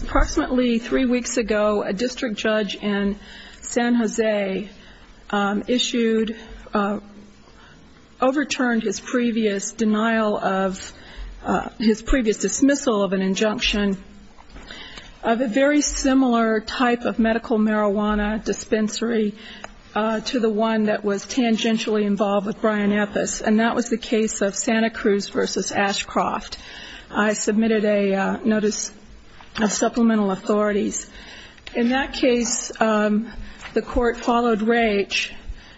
Approximately three weeks ago, a district judge in San Jose issued, overturned his previous denial of, his previous dismissal of an injunction of a very similar type of medical marijuana dispensary to the one that was tangentially involved with Brian Epis, and that was the case of Santa Cruz v. Ashcroft. I submitted a notice of supplemental authorities. In that case, the court followed Raich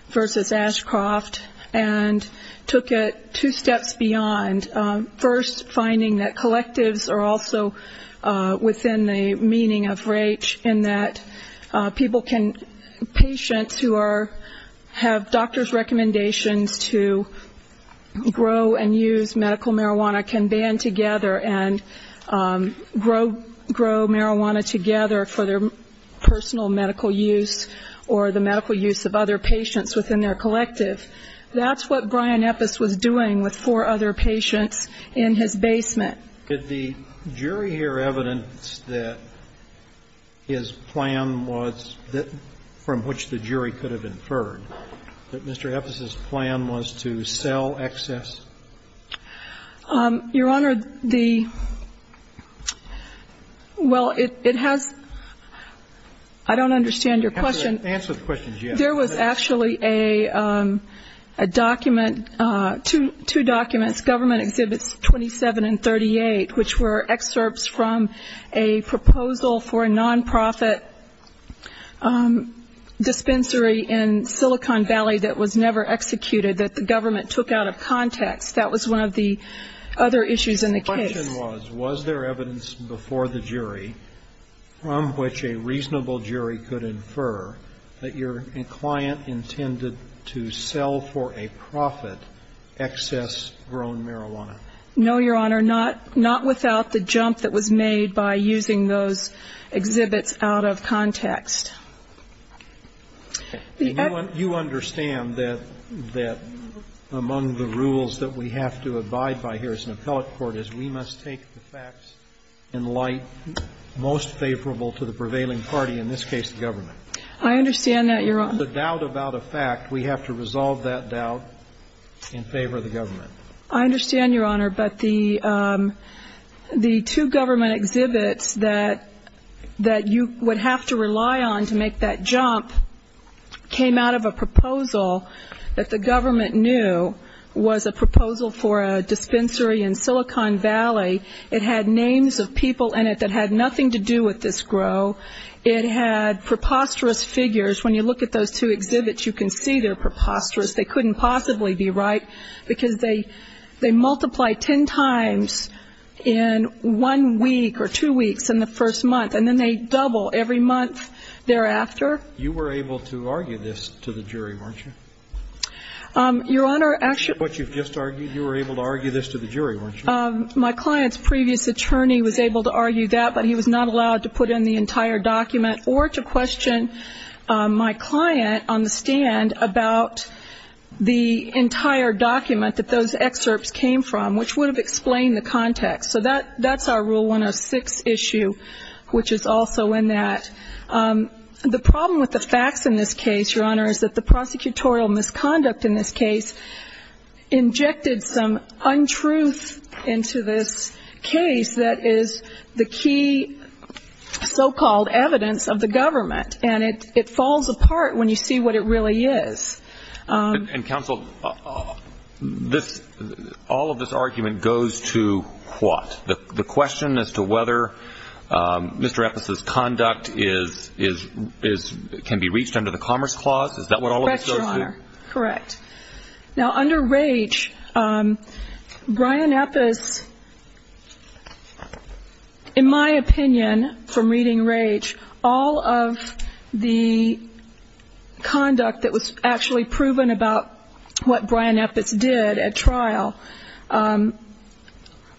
v. Ashcroft and took it two steps beyond. And first, finding that collectives are also within the meaning of Raich in that people can, patients who are, have doctor's recommendations to grow and use medical marijuana can band together and grow marijuana together for their personal medical use or the medical use of other patients within their collective. That's what Brian Epis was doing with four other patients in his basement. Could the jury hear evidence that his plan was, from which the jury could have inferred that Mr. Epis' plan was to sell excess? Your Honor, the, well, it has, I don't understand your question. Answer the question, yes. There was actually a document, two documents, Government Exhibits 27 and 38, which were excerpts from a proposal for a nonprofit dispensary in Silicon Valley that was never executed that the government took out of context. That was one of the other issues in the case. The question was, was there evidence before the jury from which a reasonable jury could have inferred that the client intended to sell for a profit excess-grown marijuana? No, Your Honor. Not without the jump that was made by using those exhibits out of context. And you understand that among the rules that we have to abide by here as an appellate court is we must take the facts in light most favorable to the prevailing party, in this case the government. I understand that, Your Honor. Without a doubt about a fact, we have to resolve that doubt in favor of the government. I understand, Your Honor, but the two government exhibits that you would have to rely on to make that jump came out of a proposal that the government knew was a proposal for a dispensary in Silicon Valley. It had names of people in it that had nothing to do with this grow. It had preposterous figures. When you look at those two exhibits, you can see they're preposterous. They couldn't possibly be right because they multiply ten times in one week or two weeks in the first month, and then they double every month thereafter. You were able to argue this to the jury, weren't you? Your Honor, actually ---- What you've just argued, you were able to argue this to the jury, weren't you? My client's previous attorney was able to argue that, but he was not allowed to put in the entire document or to question my client on the stand about the entire document that those excerpts came from, which would have explained the context. So that's our Rule 106 issue, which is also in that. The problem with the facts in this case, Your Honor, is that the prosecutorial misconduct in this case injected some untruth into this case that is the key so-called evidence of the government, and it falls apart when you see what it really is. And, Counsel, all of this argument goes to what? The question as to whether Mr. Eppes's conduct can be reached under the Commerce Clause? Is that what all of this goes to? Correct, Your Honor. Correct. Now, under Raich, Brian Eppes, in my opinion, from reading Raich, all of the conduct that was actually proven about what Brian Eppes did at trial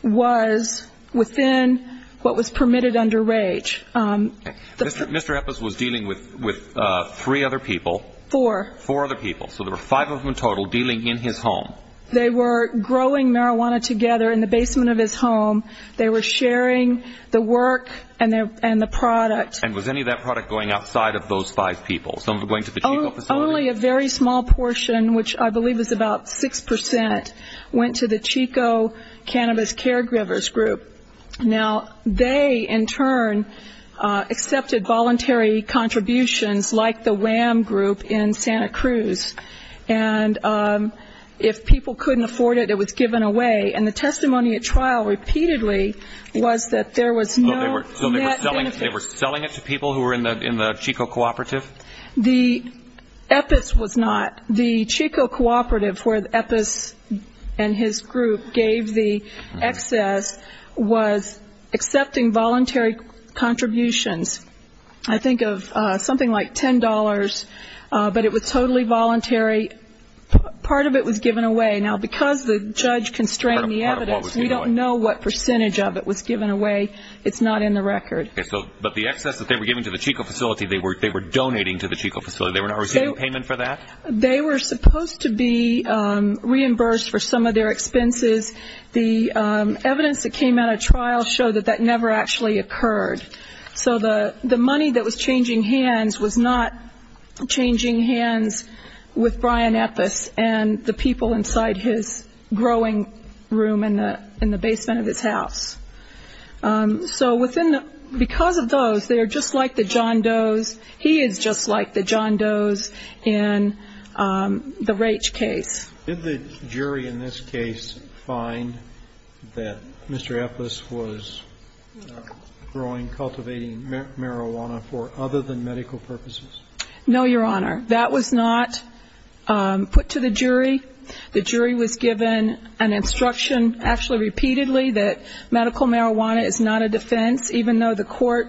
was within what was permitted under Raich. Mr. Eppes was dealing with three other people. Four. Four other people. So there were five of them in total dealing in his home. They were growing marijuana together in the basement of his home. They were sharing the work and the product. And was any of that product going outside of those five people? Only a very small portion, which I believe is about 6 percent, went to the Chico Cannabis Caregivers Group. Now, they, in turn, accepted voluntary contributions like the WAM group in Santa Cruz. And if people couldn't afford it, it was given away. And the testimony at trial repeatedly was that there was no net benefit. So they were selling it to people who were in the Chico Cooperative? The Eppes was not. The Chico Cooperative, where Eppes and his group gave the excess, was accepting voluntary contributions. I think of something like $10, but it was totally in the evidence. We don't know what percentage of it was given away. It's not in the record. But the excess that they were giving to the Chico facility, they were donating to the Chico facility. They were not receiving payment for that? They were supposed to be reimbursed for some of their expenses. The evidence that came out at trial showed that that never actually occurred. So the money that was changing hands was not changing hands with Brian Eppes and the people inside his growing room. In the basement of his house. So because of those, they are just like the John Doe's. He is just like the John Doe's in the Raich case. Did the jury in this case find that Mr. Eppes was growing, cultivating marijuana for other than medical purposes? No, Your Honor. That was not put to the jury. The jury was given an instruction actually repeatedly that medical marijuana is not a defense, even though the court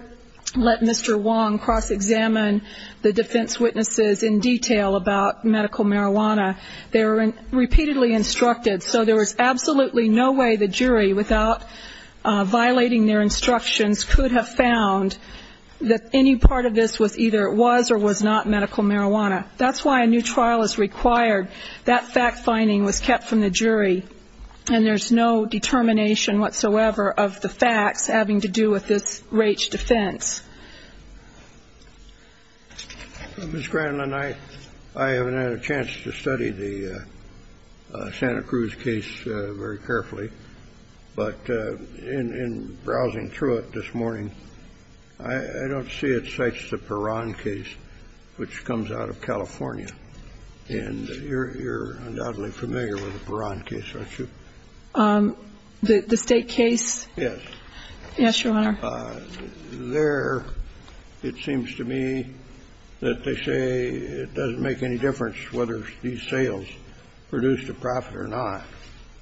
let Mr. Wong cross-examine the defense witnesses in detail about medical marijuana. They were repeatedly instructed. So there was absolutely no way the jury, without violating their instructions, could have found that any part of this was either it was or was not medical marijuana. That's why a new trial is required. That fact finding was kept from the jury. And there's no determination whatsoever of the facts having to do with this Raich defense. Ms. Granlin, I haven't had a chance to study the Santa Cruz case very carefully, but in browsing through it this morning, I don't see it cites the Perron case, which comes out of California. And you're undoubtedly familiar with the Perron case, aren't you? The state case? Yes. Yes, Your Honor. There, it seems to me that they say it doesn't make any difference whether these sales produced a profit or not.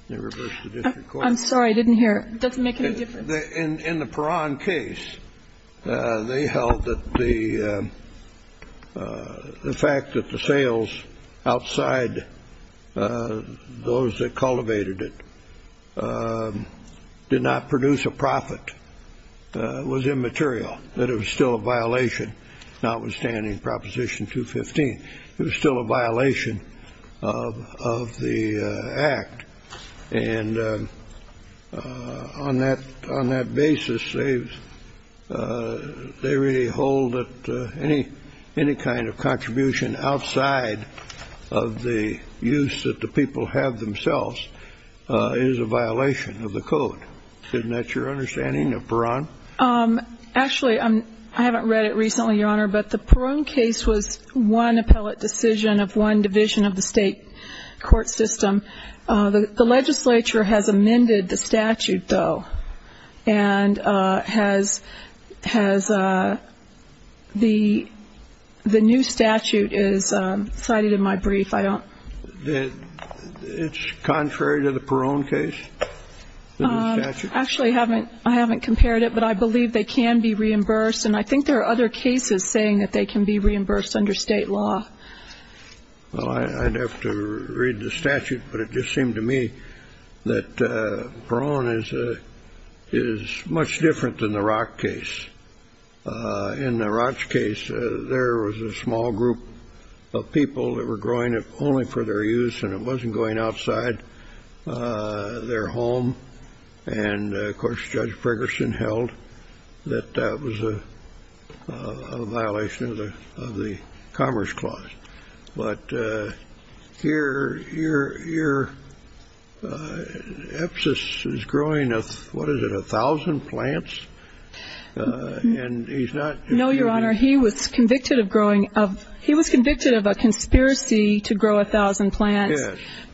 They reversed the district court. I'm sorry. I didn't hear. It doesn't make any difference. In the Perron case, they held that the fact that the sales outside those that cultivated it did not produce a profit was immaterial, that it was still a violation, notwithstanding Proposition 215. It was still a violation of the act. And on that basis, they really hold that any kind of contribution outside of the use that the people have themselves is a violation of the code. Isn't that your understanding of Perron? Actually, I haven't read it recently, Your Honor, but the Perron case was one appellate decision of one division of the state court system. The legislature has amended the statute, though, and the new statute is cited in my brief. It's contrary to the Perron case? Actually, I haven't compared it, but I believe they can be reimbursed. And I think there are other cases saying that they can be reimbursed under state law. Well, I'd have to read the statute, but it just seemed to me that Perron is much different than the Roch case. In the Roch case, there was a small group of people that were growing it only for their use, and it wasn't going outside their home. And, of course, Judge Ferguson held that that was a violation of the Commerce Clause. But here, Epsos is growing, what is it, a thousand plants? No, Your Honor, he was convicted of a conspiracy to grow a thousand plants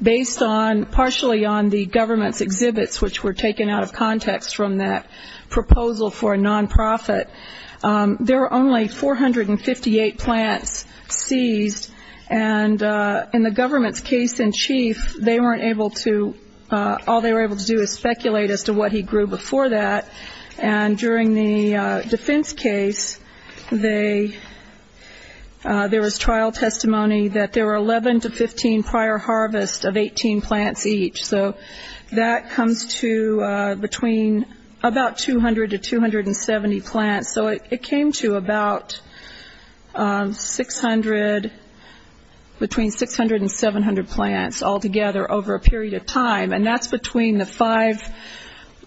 based partially on the government's exhibits, which were taken out of context from that proposal for a non-profit. There were only 458 plants seized, and in the government's case in chief, they weren't able to, all they were able to do was speculate as to what he grew before that. And during the defense case, there was trial testimony that there were 11 to 15 prior harvests of 18 plants each. So that comes to between about 200 to 270 plants. So it came to about 600, between 600 and 700 plants altogether over a period of time, and that's between the five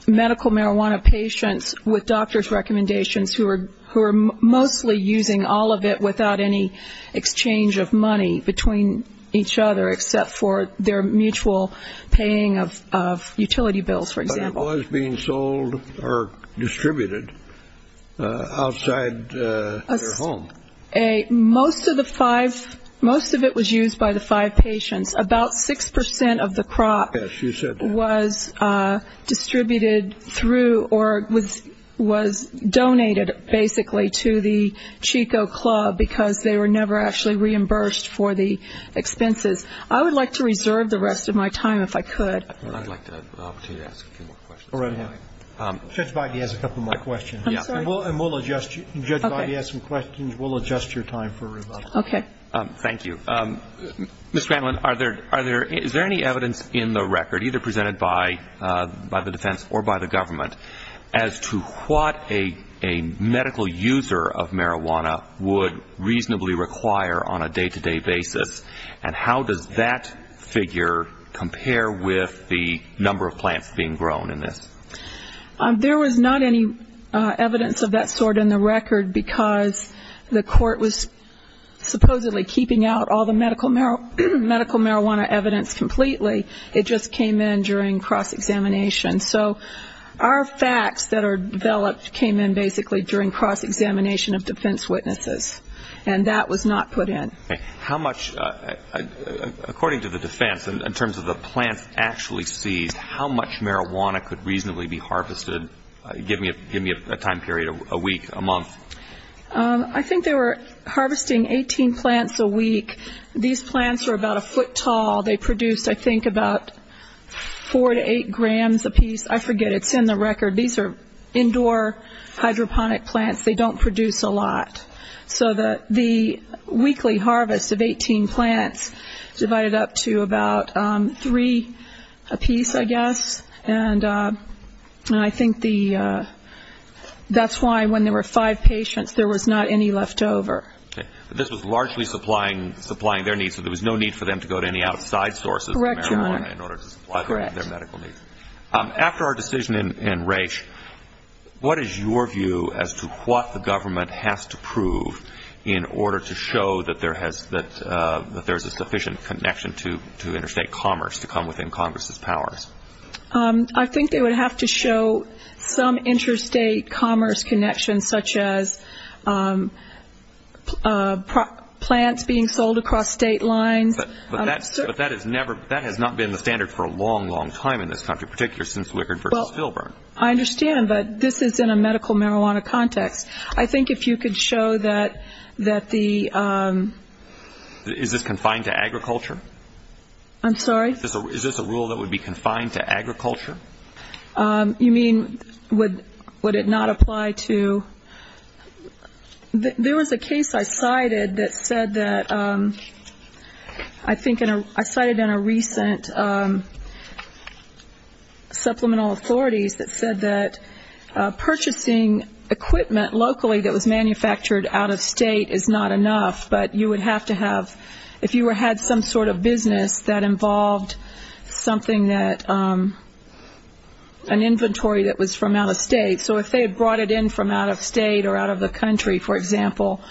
medical marijuana patients with doctor's recommendations who were mostly using all of it without any exchange of money between each other except for their mutual paying of utility bills, for example. But it was being sold or distributed outside their home? Most of it was used by the five patients. About 6% of the crop was distributed through or was donated, basically, to the Chico Club because they were never actually reimbursed for the expenses. I would like to reserve the rest of my time if I could. I'd like to ask a few more questions. Judge Boddy has a couple more questions. And Judge Boddy has some questions. We'll adjust your time for rebuttal. Thank you. Ms. Granlin, is there any evidence in the record, either presented by the defense or by the government, as to what a medical user of marijuana would reasonably require on a day-to-day basis? And how does that figure compare with the number of plants being grown in this? There was not any evidence of that sort in the record because the court was supposedly keeping out all the medical marijuana evidence completely. It just came in during cross-examination. So our facts that are developed came in, basically, during cross-examination of defense witnesses. And that was not put in. According to the defense, in terms of the plants actually seized, how much marijuana could reasonably be harvested, give me a time period, a week, a month? I think they were harvesting 18 plants a week. These plants were about a foot tall. They produced, I think, about four to eight grams apiece. I forget. It's in the record. These are indoor hydroponic plants. They don't produce a lot. So the weekly harvest of 18 plants divided up to about three apiece, I guess. And I think that's why, when there were five patients, there was not any left over. But this was largely supplying their needs, so there was no need for them to go to any outside sources of marijuana in order to supply their medical needs. After our decision in Raich, what is your view as to what the government has to prove in order to show that there's a sufficient connection to interstate commerce to come within Congress's powers? I think they would have to show some interstate commerce connection, such as, you know, plants being sold across state lines. But that has not been the standard for a long, long time in this country, particularly since Wickard v. Filburn. I understand, but this is in a medical marijuana context. I think if you could show that the... Is this confined to agriculture? I'm sorry? Yes, I cited that said that... I cited in a recent supplemental authorities that said that purchasing equipment locally that was manufactured out of state is not enough, but you would have to have... If you had some sort of business that involved something that... An inventory that was from out of state, so if they had brought it in from out of state or out of the country, for example,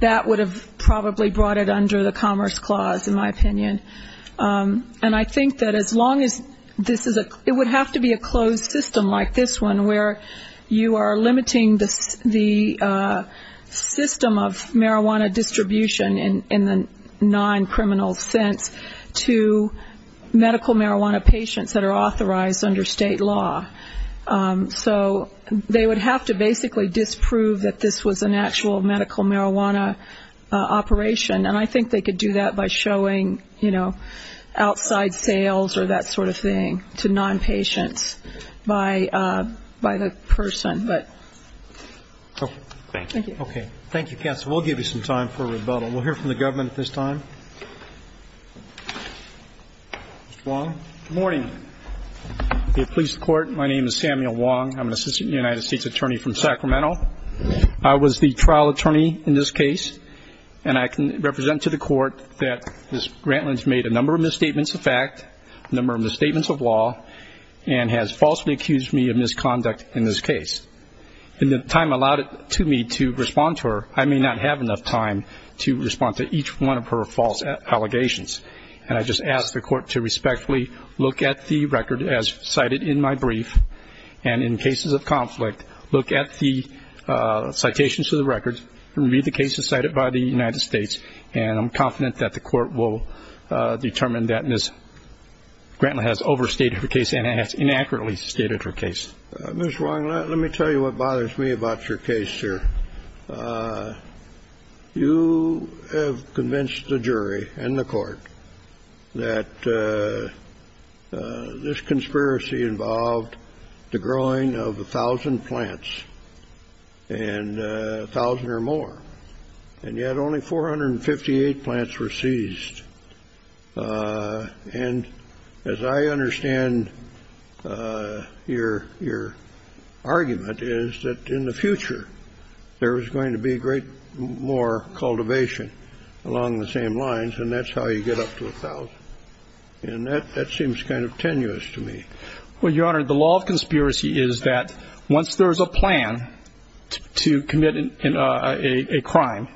that would have probably brought it under the Commerce Clause, in my opinion. And I think that as long as this is a... It would have to be a closed system like this one, where you are limiting the system of marijuana distribution in the non-criminal sense to medical marijuana patients that are authorized under state law. So they would have to basically disprove that this was an actual medical marijuana operation. And I think they could do that by showing, you know, outside sales or that sort of thing to non-patients by the person. Okay. Thank you. Okay. Thank you, counsel. We'll give you some time for rebuttal. We'll hear from the government at this time. Mr. Wong. Good morning. The police court. My name is Samuel Wong. I'm an assistant United States attorney from Sacramento. I was the trial attorney in this case, and I can represent to the court that Ms. Grantland has made a number of misstatements of fact, a number of misstatements of law, and has falsely accused me of misconduct in this case. And the time allowed it to me to respond to her. I may not have enough time to respond to each one of her false allegations. And I just ask the court to respectfully look at the record as cited in my brief, and in cases of conflict, look at the citations to the record, and read the cases cited by the United States. And I'm confident that the court will determine that Ms. Grantland has overstated her case and has inaccurately stated her case. Mr. Wong, let me tell you what bothers me about your case here. You have convinced the jury and the court that this conspiracy involved the growing of 1,000 plants and 1,000 or more. And yet only 458 plants were seized. And as I understand your argument is that in the future, there is going to be great more cultivation along the same lines, and that's how you get up to 1,000. And that seems kind of tenuous to me. Well, Your Honor, the law of conspiracy is that once there is a plan to commit a crime,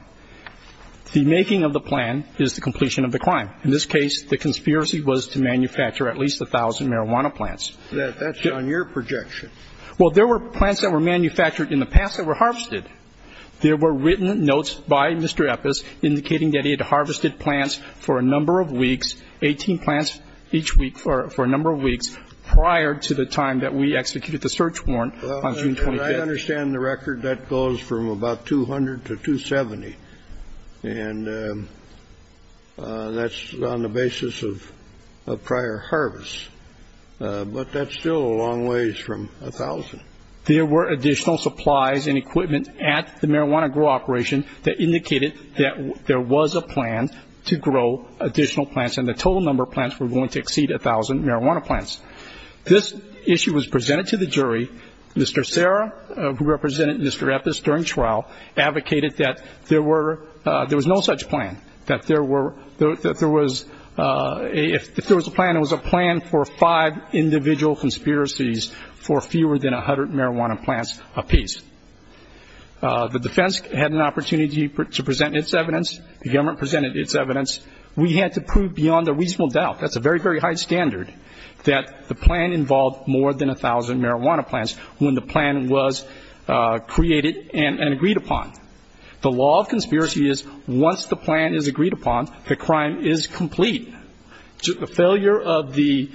the making of the plan is the completion of the crime. In this case, the conspiracy was to manufacture at least 1,000 marijuana plants. That's on your projection. Well, there were plants that were manufactured in the past that were harvested. There were written notes by Mr. Eppes indicating that he had harvested plants for a number of weeks, 18 plants each week for a number of weeks prior to the time that we executed the search warrant on June 25th. As I understand the record, that goes from about 200 to 270. And that's on the basis of prior harvest. But that's still a long ways from 1,000. There were additional supplies and equipment at the marijuana grow operation that indicated that there was a plan to grow additional plants, and the total number of plants were going to exceed 1,000 marijuana plants. This issue was presented to the jury. Mr. Serra, who represented Mr. Eppes during trial, advocated that there was no such plan, that if there was a plan, it was a plan for five individual conspiracies for fewer than 100 marijuana plants apiece. The defense had an opportunity to present its evidence. The government presented its evidence. We had to prove beyond a reasonable doubt, that's a very, very high standard, that the plan involved more than 1,000 marijuana plants when the plan was created and agreed upon. The law of conspiracy is once the plan is agreed upon, the crime is complete. The failure of the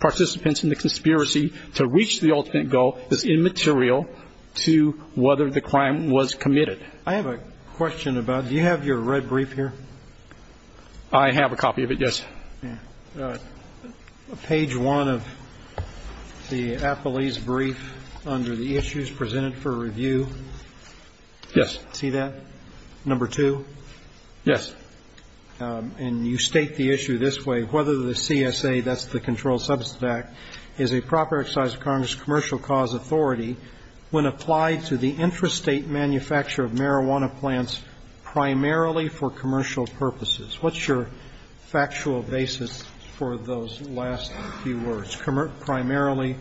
participants in the conspiracy to reach the ultimate goal is immaterial to whether the crime was committed. I have a question about, do you have your red brief here? I have a copy of it, yes. Page one of the appellee's brief under the issues presented for review. Yes. And you state the issue this way. Whether the CSA, that's the Controlled Substance Act, is a proper exercise of Congress commercial cause authority when applied to the infrastate manufacture of marijuana plants primarily for commercial purposes. What's your factual basis for those last few words? Primarily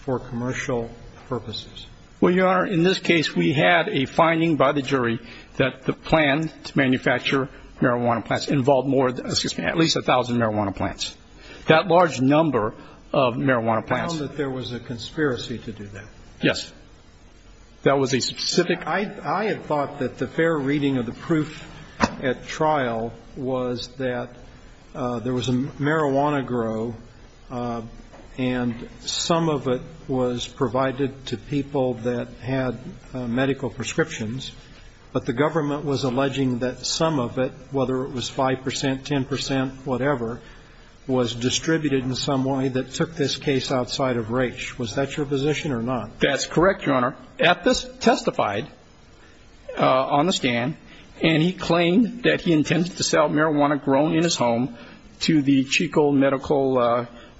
for commercial purposes? Well, Your Honor, in this case we had a finding by the jury that the plan to manufacture marijuana plants involved more than, excuse me, at least 1,000 marijuana plants. That large number of marijuana plants. You found that there was a conspiracy to do that? Yes. That was a specific? I had thought that the fair reading of the proof at trial was that there was a marijuana grow and some of it was provided to people that had medical prescriptions, but the government was alleging that some of it, whether it was 5 percent, 10 percent, whatever, was distributed in some way that took this case outside of range. Was that your position or not? That's correct, Your Honor. Ethos testified on the stand and he claimed that he intended to sell marijuana grown in his home to the Chico Medical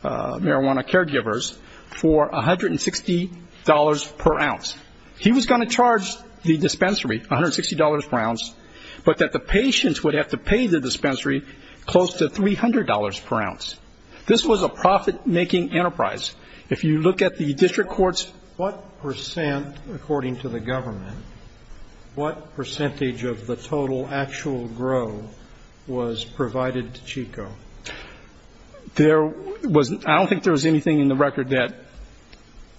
Marijuana Caregivers for $160 per ounce. He was going to charge the dispensary $160 per ounce, but that the patients would have to pay the dispensary close to $300 per ounce. This was a profit-making enterprise. What percent, according to the government, what percentage of the total actual grow was provided to Chico? I don't think there was anything in the record that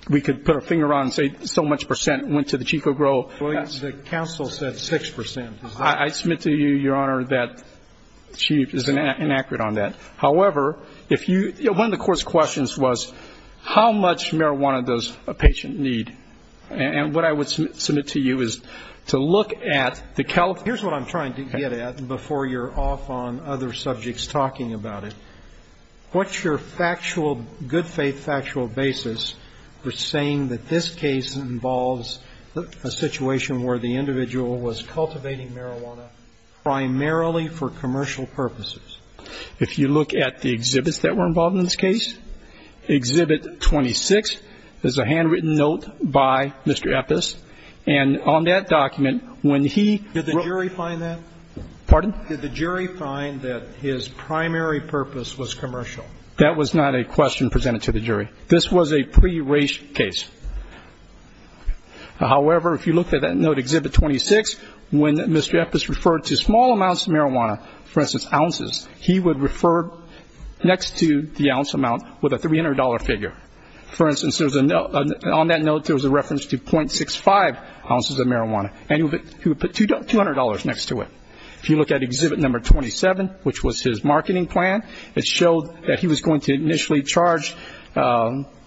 we could put a finger on and say so much percent went to the Chico grow. The counsel said 6 percent. I submit to you, Your Honor, that she is inaccurate on that. However, if you, one of the court's questions was how much marijuana does a patient need? And what I would submit to you is to look at the California. Here's what I'm trying to get at before you're off on other subjects talking about it. What's your factual, good-faith factual basis for saying that this case involves a situation where the individual was cultivating marijuana primarily for commercial purposes? If you look at the exhibits that were involved in this case, Exhibit 26, there's a handwritten note by Mr. Eppes, and on that document, when he... Pardon? Did the jury find that his primary purpose was commercial? That was not a question presented to the jury. This was a pre-race case. However, if you look at that note, Exhibit 26, when Mr. Eppes referred to small amounts of marijuana, for instance, ounces, he would refer next to the ounce amount with a $300 figure. For instance, on that note, there was a reference to .65 ounces of marijuana, and he would put $200 next to it. If you look at Exhibit 27, which was his marketing plan, it showed that he was going to initially charge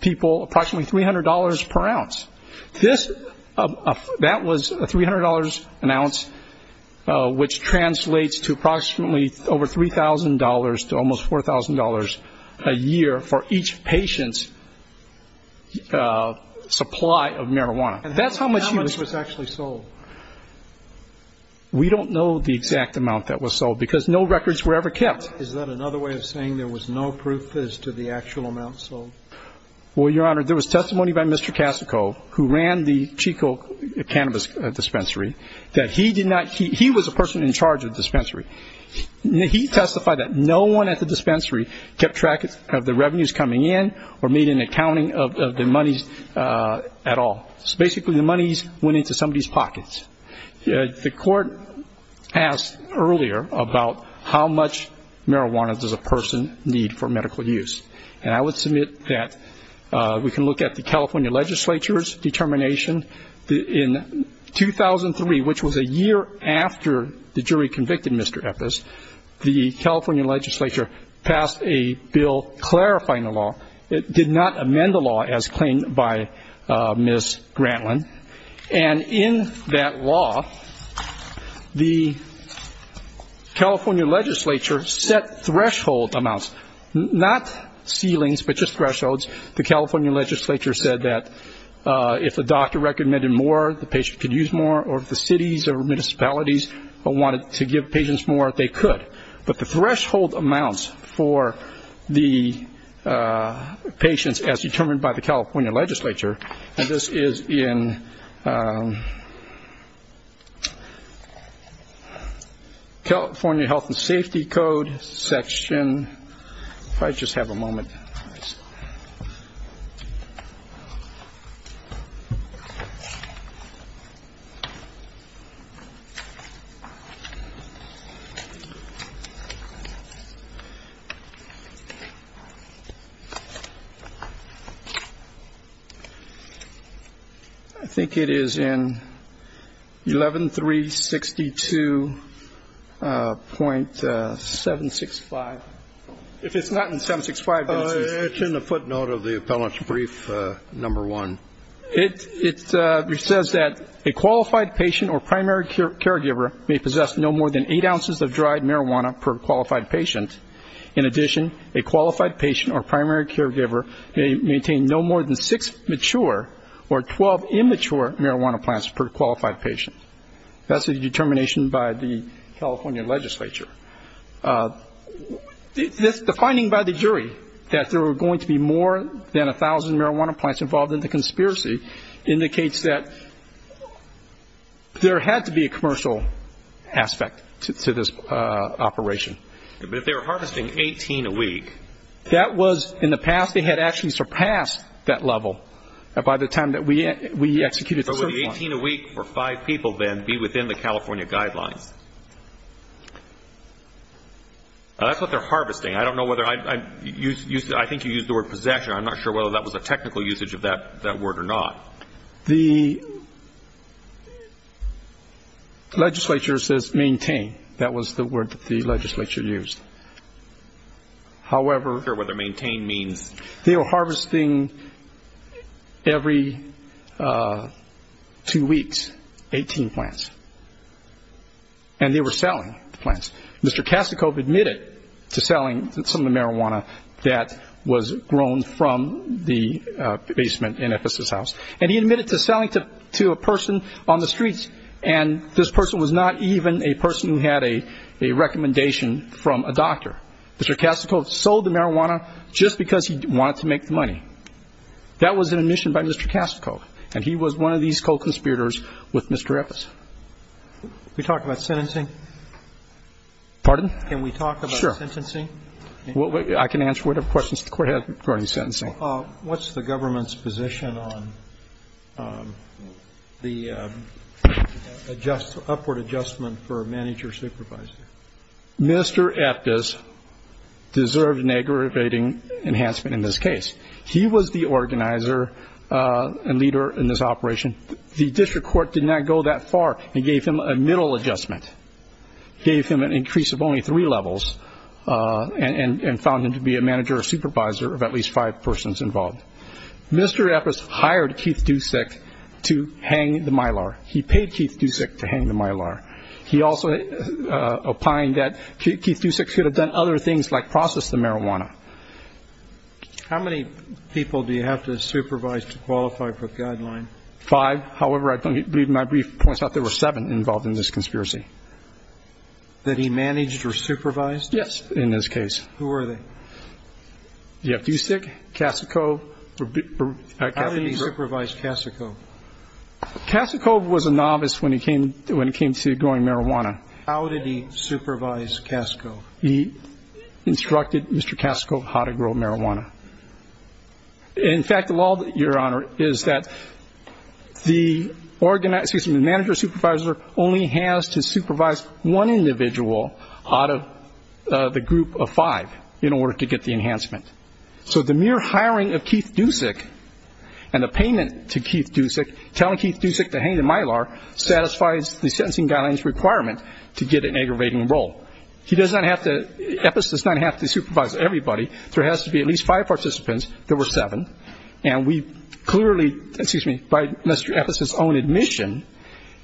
people approximately $300 per ounce. That was a $300 an ounce, which translates to approximately over $3,000 to almost $4,000 a year for each patient's supply of marijuana. And how much was actually sold? We don't know the exact amount that was sold, because no records were ever kept. Is that another way of saying there was no proof as to the actual amount sold? Well, Your Honor, there was testimony by Mr. Casico, who ran the Chico Cannabis Dispensary, that he did not... or made an accounting of the monies at all. Basically, the monies went into somebody's pockets. The Court asked earlier about how much marijuana does a person need for medical use. And I would submit that we can look at the California Legislature's determination. In 2003, which was a year after the jury convicted Mr. Eppes, the California Legislature passed a bill clarifying the law. It did not amend the law as claimed by Ms. Grantland. And in that law, the California Legislature set threshold amounts. Not ceilings, but just thresholds. The California Legislature said that if a doctor recommended more, the patient could use more. Or if the cities or municipalities wanted to give patients more, they could. But the threshold amounts for the patients, as determined by the California Legislature, and this is in the California Health and Safety Code section. If I just have a moment. Okay. I think it is in 11362.765. If it's not in 765, then it's... If a patient or primary caregiver may possess no more than eight ounces of dried marijuana per qualified patient, in addition, a qualified patient or primary caregiver may maintain no more than six mature or 12 immature marijuana plants per qualified patient. That's the determination by the California Legislature. The finding by the jury that there were going to be more than 1,000 marijuana plants involved in the conspiracy indicates that there had to be a commercial aspect to this operation. But if they were harvesting 18 a week... That was... In the past, they had actually surpassed that level by the time that we executed... But would 18 a week for five people, then, be within the California guidelines? That's what they're harvesting. I don't know whether... I think you used the word possession. I'm not sure whether that was a technical usage of that word or not. The legislature says maintain. That was the word that the legislature used. However... There were actually two weeks, 18 plants. And they were selling the plants. Mr. Kasichov admitted to selling some of the marijuana that was grown from the basement in Ephesus House. And he admitted to selling to a person on the streets. And this person was not even a person who had a recommendation from a doctor. Mr. Kasichov sold the marijuana just because he wanted to make the money. That was an admission by Mr. Kasichov. And he was one of these co-conspirators with Mr. Ephesus. Pardon? Can we talk about sentencing? I can answer whatever questions the Court has regarding sentencing. What's the government's position on the upward adjustment for a manager-supervisor? Mr. Ephesus deserved an aggravating enhancement in this case. He was the organizer and leader in this operation. The district court did not go that far and gave him a middle adjustment. Gave him an increase of only three levels. And found him to be a manager-supervisor of at least five persons involved. Mr. Ephesus hired Keith Dusick to hang the Mylar. He paid Keith Dusick to hang the Mylar. He also opined that Keith Dusick should have done other things like process the marijuana. How many people do you have to supervise to qualify for a guideline? Five. However, I believe my brief points out there were seven involved in this conspiracy. That he managed or supervised? Yes, in this case. Who were they? Keith Dusick, Kassikov. How did he supervise Kassikov? Kassikov was a novice when it came to growing marijuana. How did he supervise Kassikov? He instructed Mr. Kassikov how to grow marijuana. In fact, the law, Your Honor, is that the manager-supervisor only has to supervise one individual out of the group of five in order to get the enhancement. So the mere hiring of Keith Dusick and the payment to Keith Dusick, telling Keith Dusick to hang the Mylar, satisfies the sentencing guideline's requirement to get an aggravating role. Epis does not have to supervise everybody. There has to be at least five participants. There were seven. By Mr. Epis's own admission,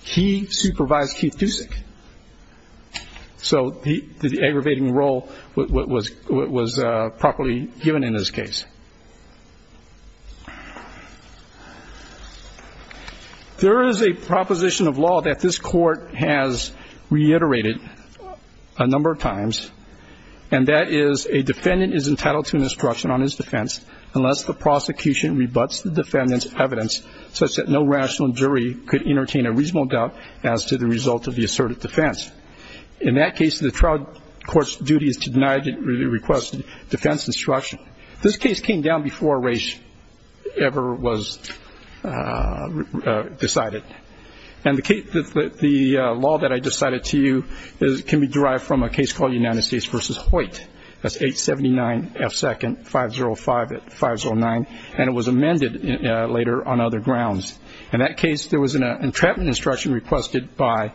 he supervised Keith Dusick. So the aggravating role was properly given in this case. There is a proposition of law that this Court has reiterated a number of times, and that is, a defendant is entitled to an instruction on his defense unless the prosecution rebuts the defendant's evidence such that no rational jury could entertain a reasonable doubt as to the result of the asserted defense. In that case, the trial court's duty is to deny the requested defense instruction. This case came down before race ever was decided. And the law that I just cited to you can be derived from a case called United States v. Hoyt. That's 879 F. 2nd, 505-509, and it was amended later on other grounds. In that case, there was an entrapment instruction requested by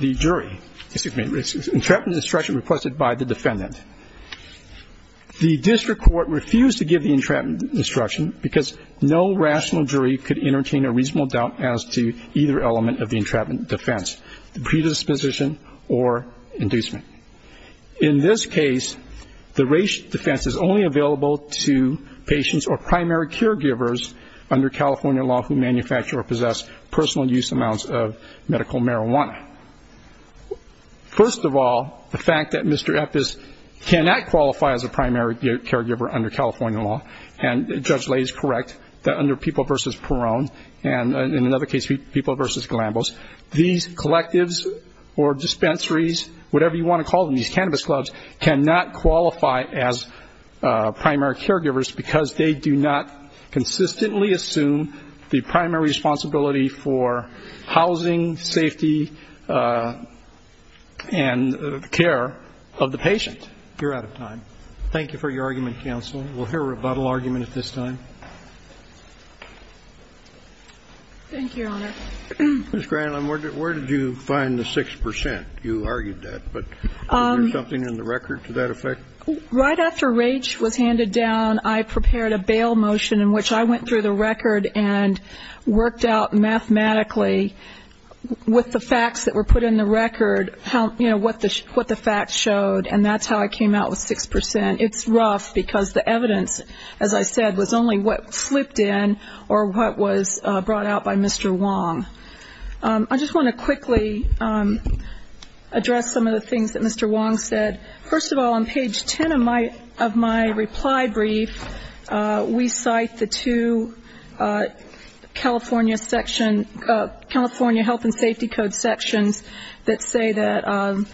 the jury. Entrapment instruction requested by the defendant. The district court refused to give the entrapment instruction because no rational jury could entertain a reasonable doubt as to either element of the entrapment defense, predisposition or inducement. In this case, the race defense is only available to patients or primary caregivers under California law who manufacture or possess personal use amounts of medical marijuana. First of all, the fact that Mr. Eppes cannot qualify as a primary caregiver under California law, and Judge Lay is correct, that under People v. Perrone, and in another case, People v. Galambos, these collectives or dispensaries, whatever you want to call them, these cannabis clubs cannot qualify as primary caregivers because they do not consistently assume the primary responsibility for housing, safety, and care of the patient. Thank you for your argument, counsel. We'll hear a rebuttal argument at this time. Ms. Granlund, where did you find the 6 percent? You argued that, but is there something in the record to that effect? Right after Rach was handed down, I prepared a bail motion in which I went through the record and worked out mathematically, with the facts that were put in the record, what the facts showed, and that's how I came out with 6 percent. It's rough, because the evidence, as I said, was only what slipped in or what was brought out by Mr. Wong. I just want to quickly address some of the things that Mr. Wong said. First of all, on page 10 of my reply brief, we cite the two California Health and Safety Code sections that say that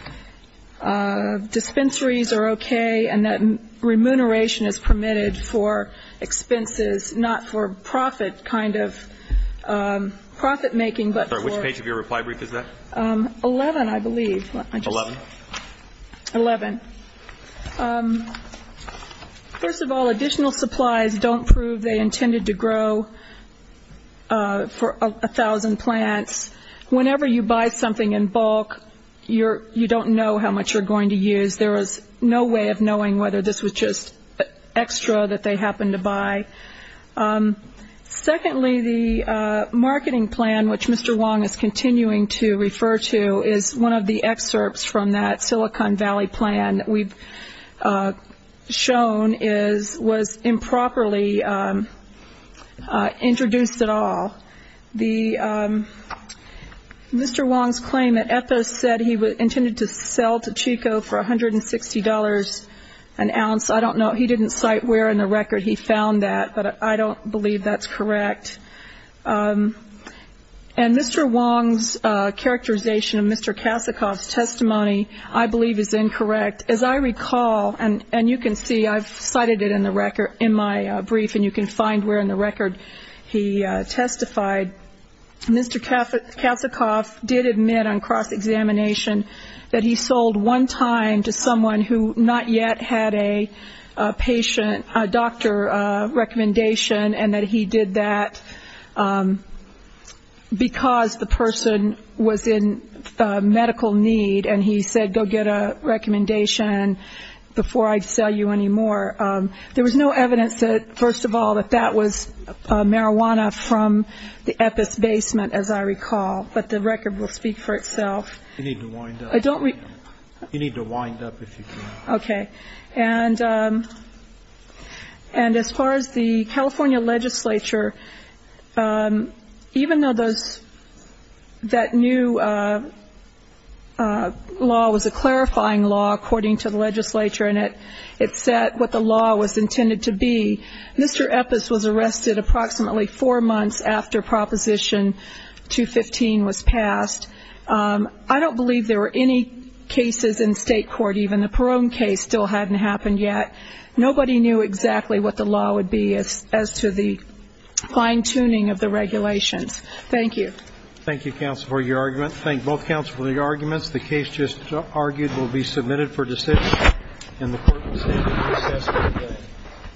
dispensaries are okay and that remuneration is permitted for expenses, not for profit-making, but for... First of all, additional supplies don't prove they intended to grow for 1,000 plants. Whenever you buy something in bulk, you don't know how much you're going to use. There is no way of knowing whether this was just extra that they happened to buy. Secondly, the marketing plan, which Mr. Wong is continuing to refer to, is one of the excerpts from that Silicon Valley plan that we've shown was improperly introduced at all. Mr. Wong's claim that Ethos said he intended to sell to Chico for $160 an ounce, I don't know. He didn't cite where in the record he found that, but I don't believe that's correct. And Mr. Wong's characterization of Mr. Kasichoff's testimony, I believe, is incorrect. As I recall, and you can see, I've cited it in my brief, and you can find where in the record he testified, Mr. Kasichoff did admit on cross-examination that he sold one time to someone who not yet had a doctor recommendation, and that he did that because the person was in medical need, and he said, go get a recommendation before I sell you any more. There was no evidence, first of all, that that was marijuana from the Ethos basement, as I recall, but the record will speak for itself. You need to wind up if you can. Okay. And as far as the California legislature, even though that new law was a clarifying law, according to the legislature, and it said what the law was intended to be, Mr. Ethos was arrested approximately four months after Proposition 215 was passed. I don't believe there were any cases in state court, even the Peron case still hadn't happened yet. Nobody knew exactly what the law would be as to the fine-tuning of the regulations. Thank you. Thank you, counsel, for your argument. Thank both counsel for the arguments. The case just argued will be submitted for decision, and the Court will stand recess until then. Thank you. Thank you.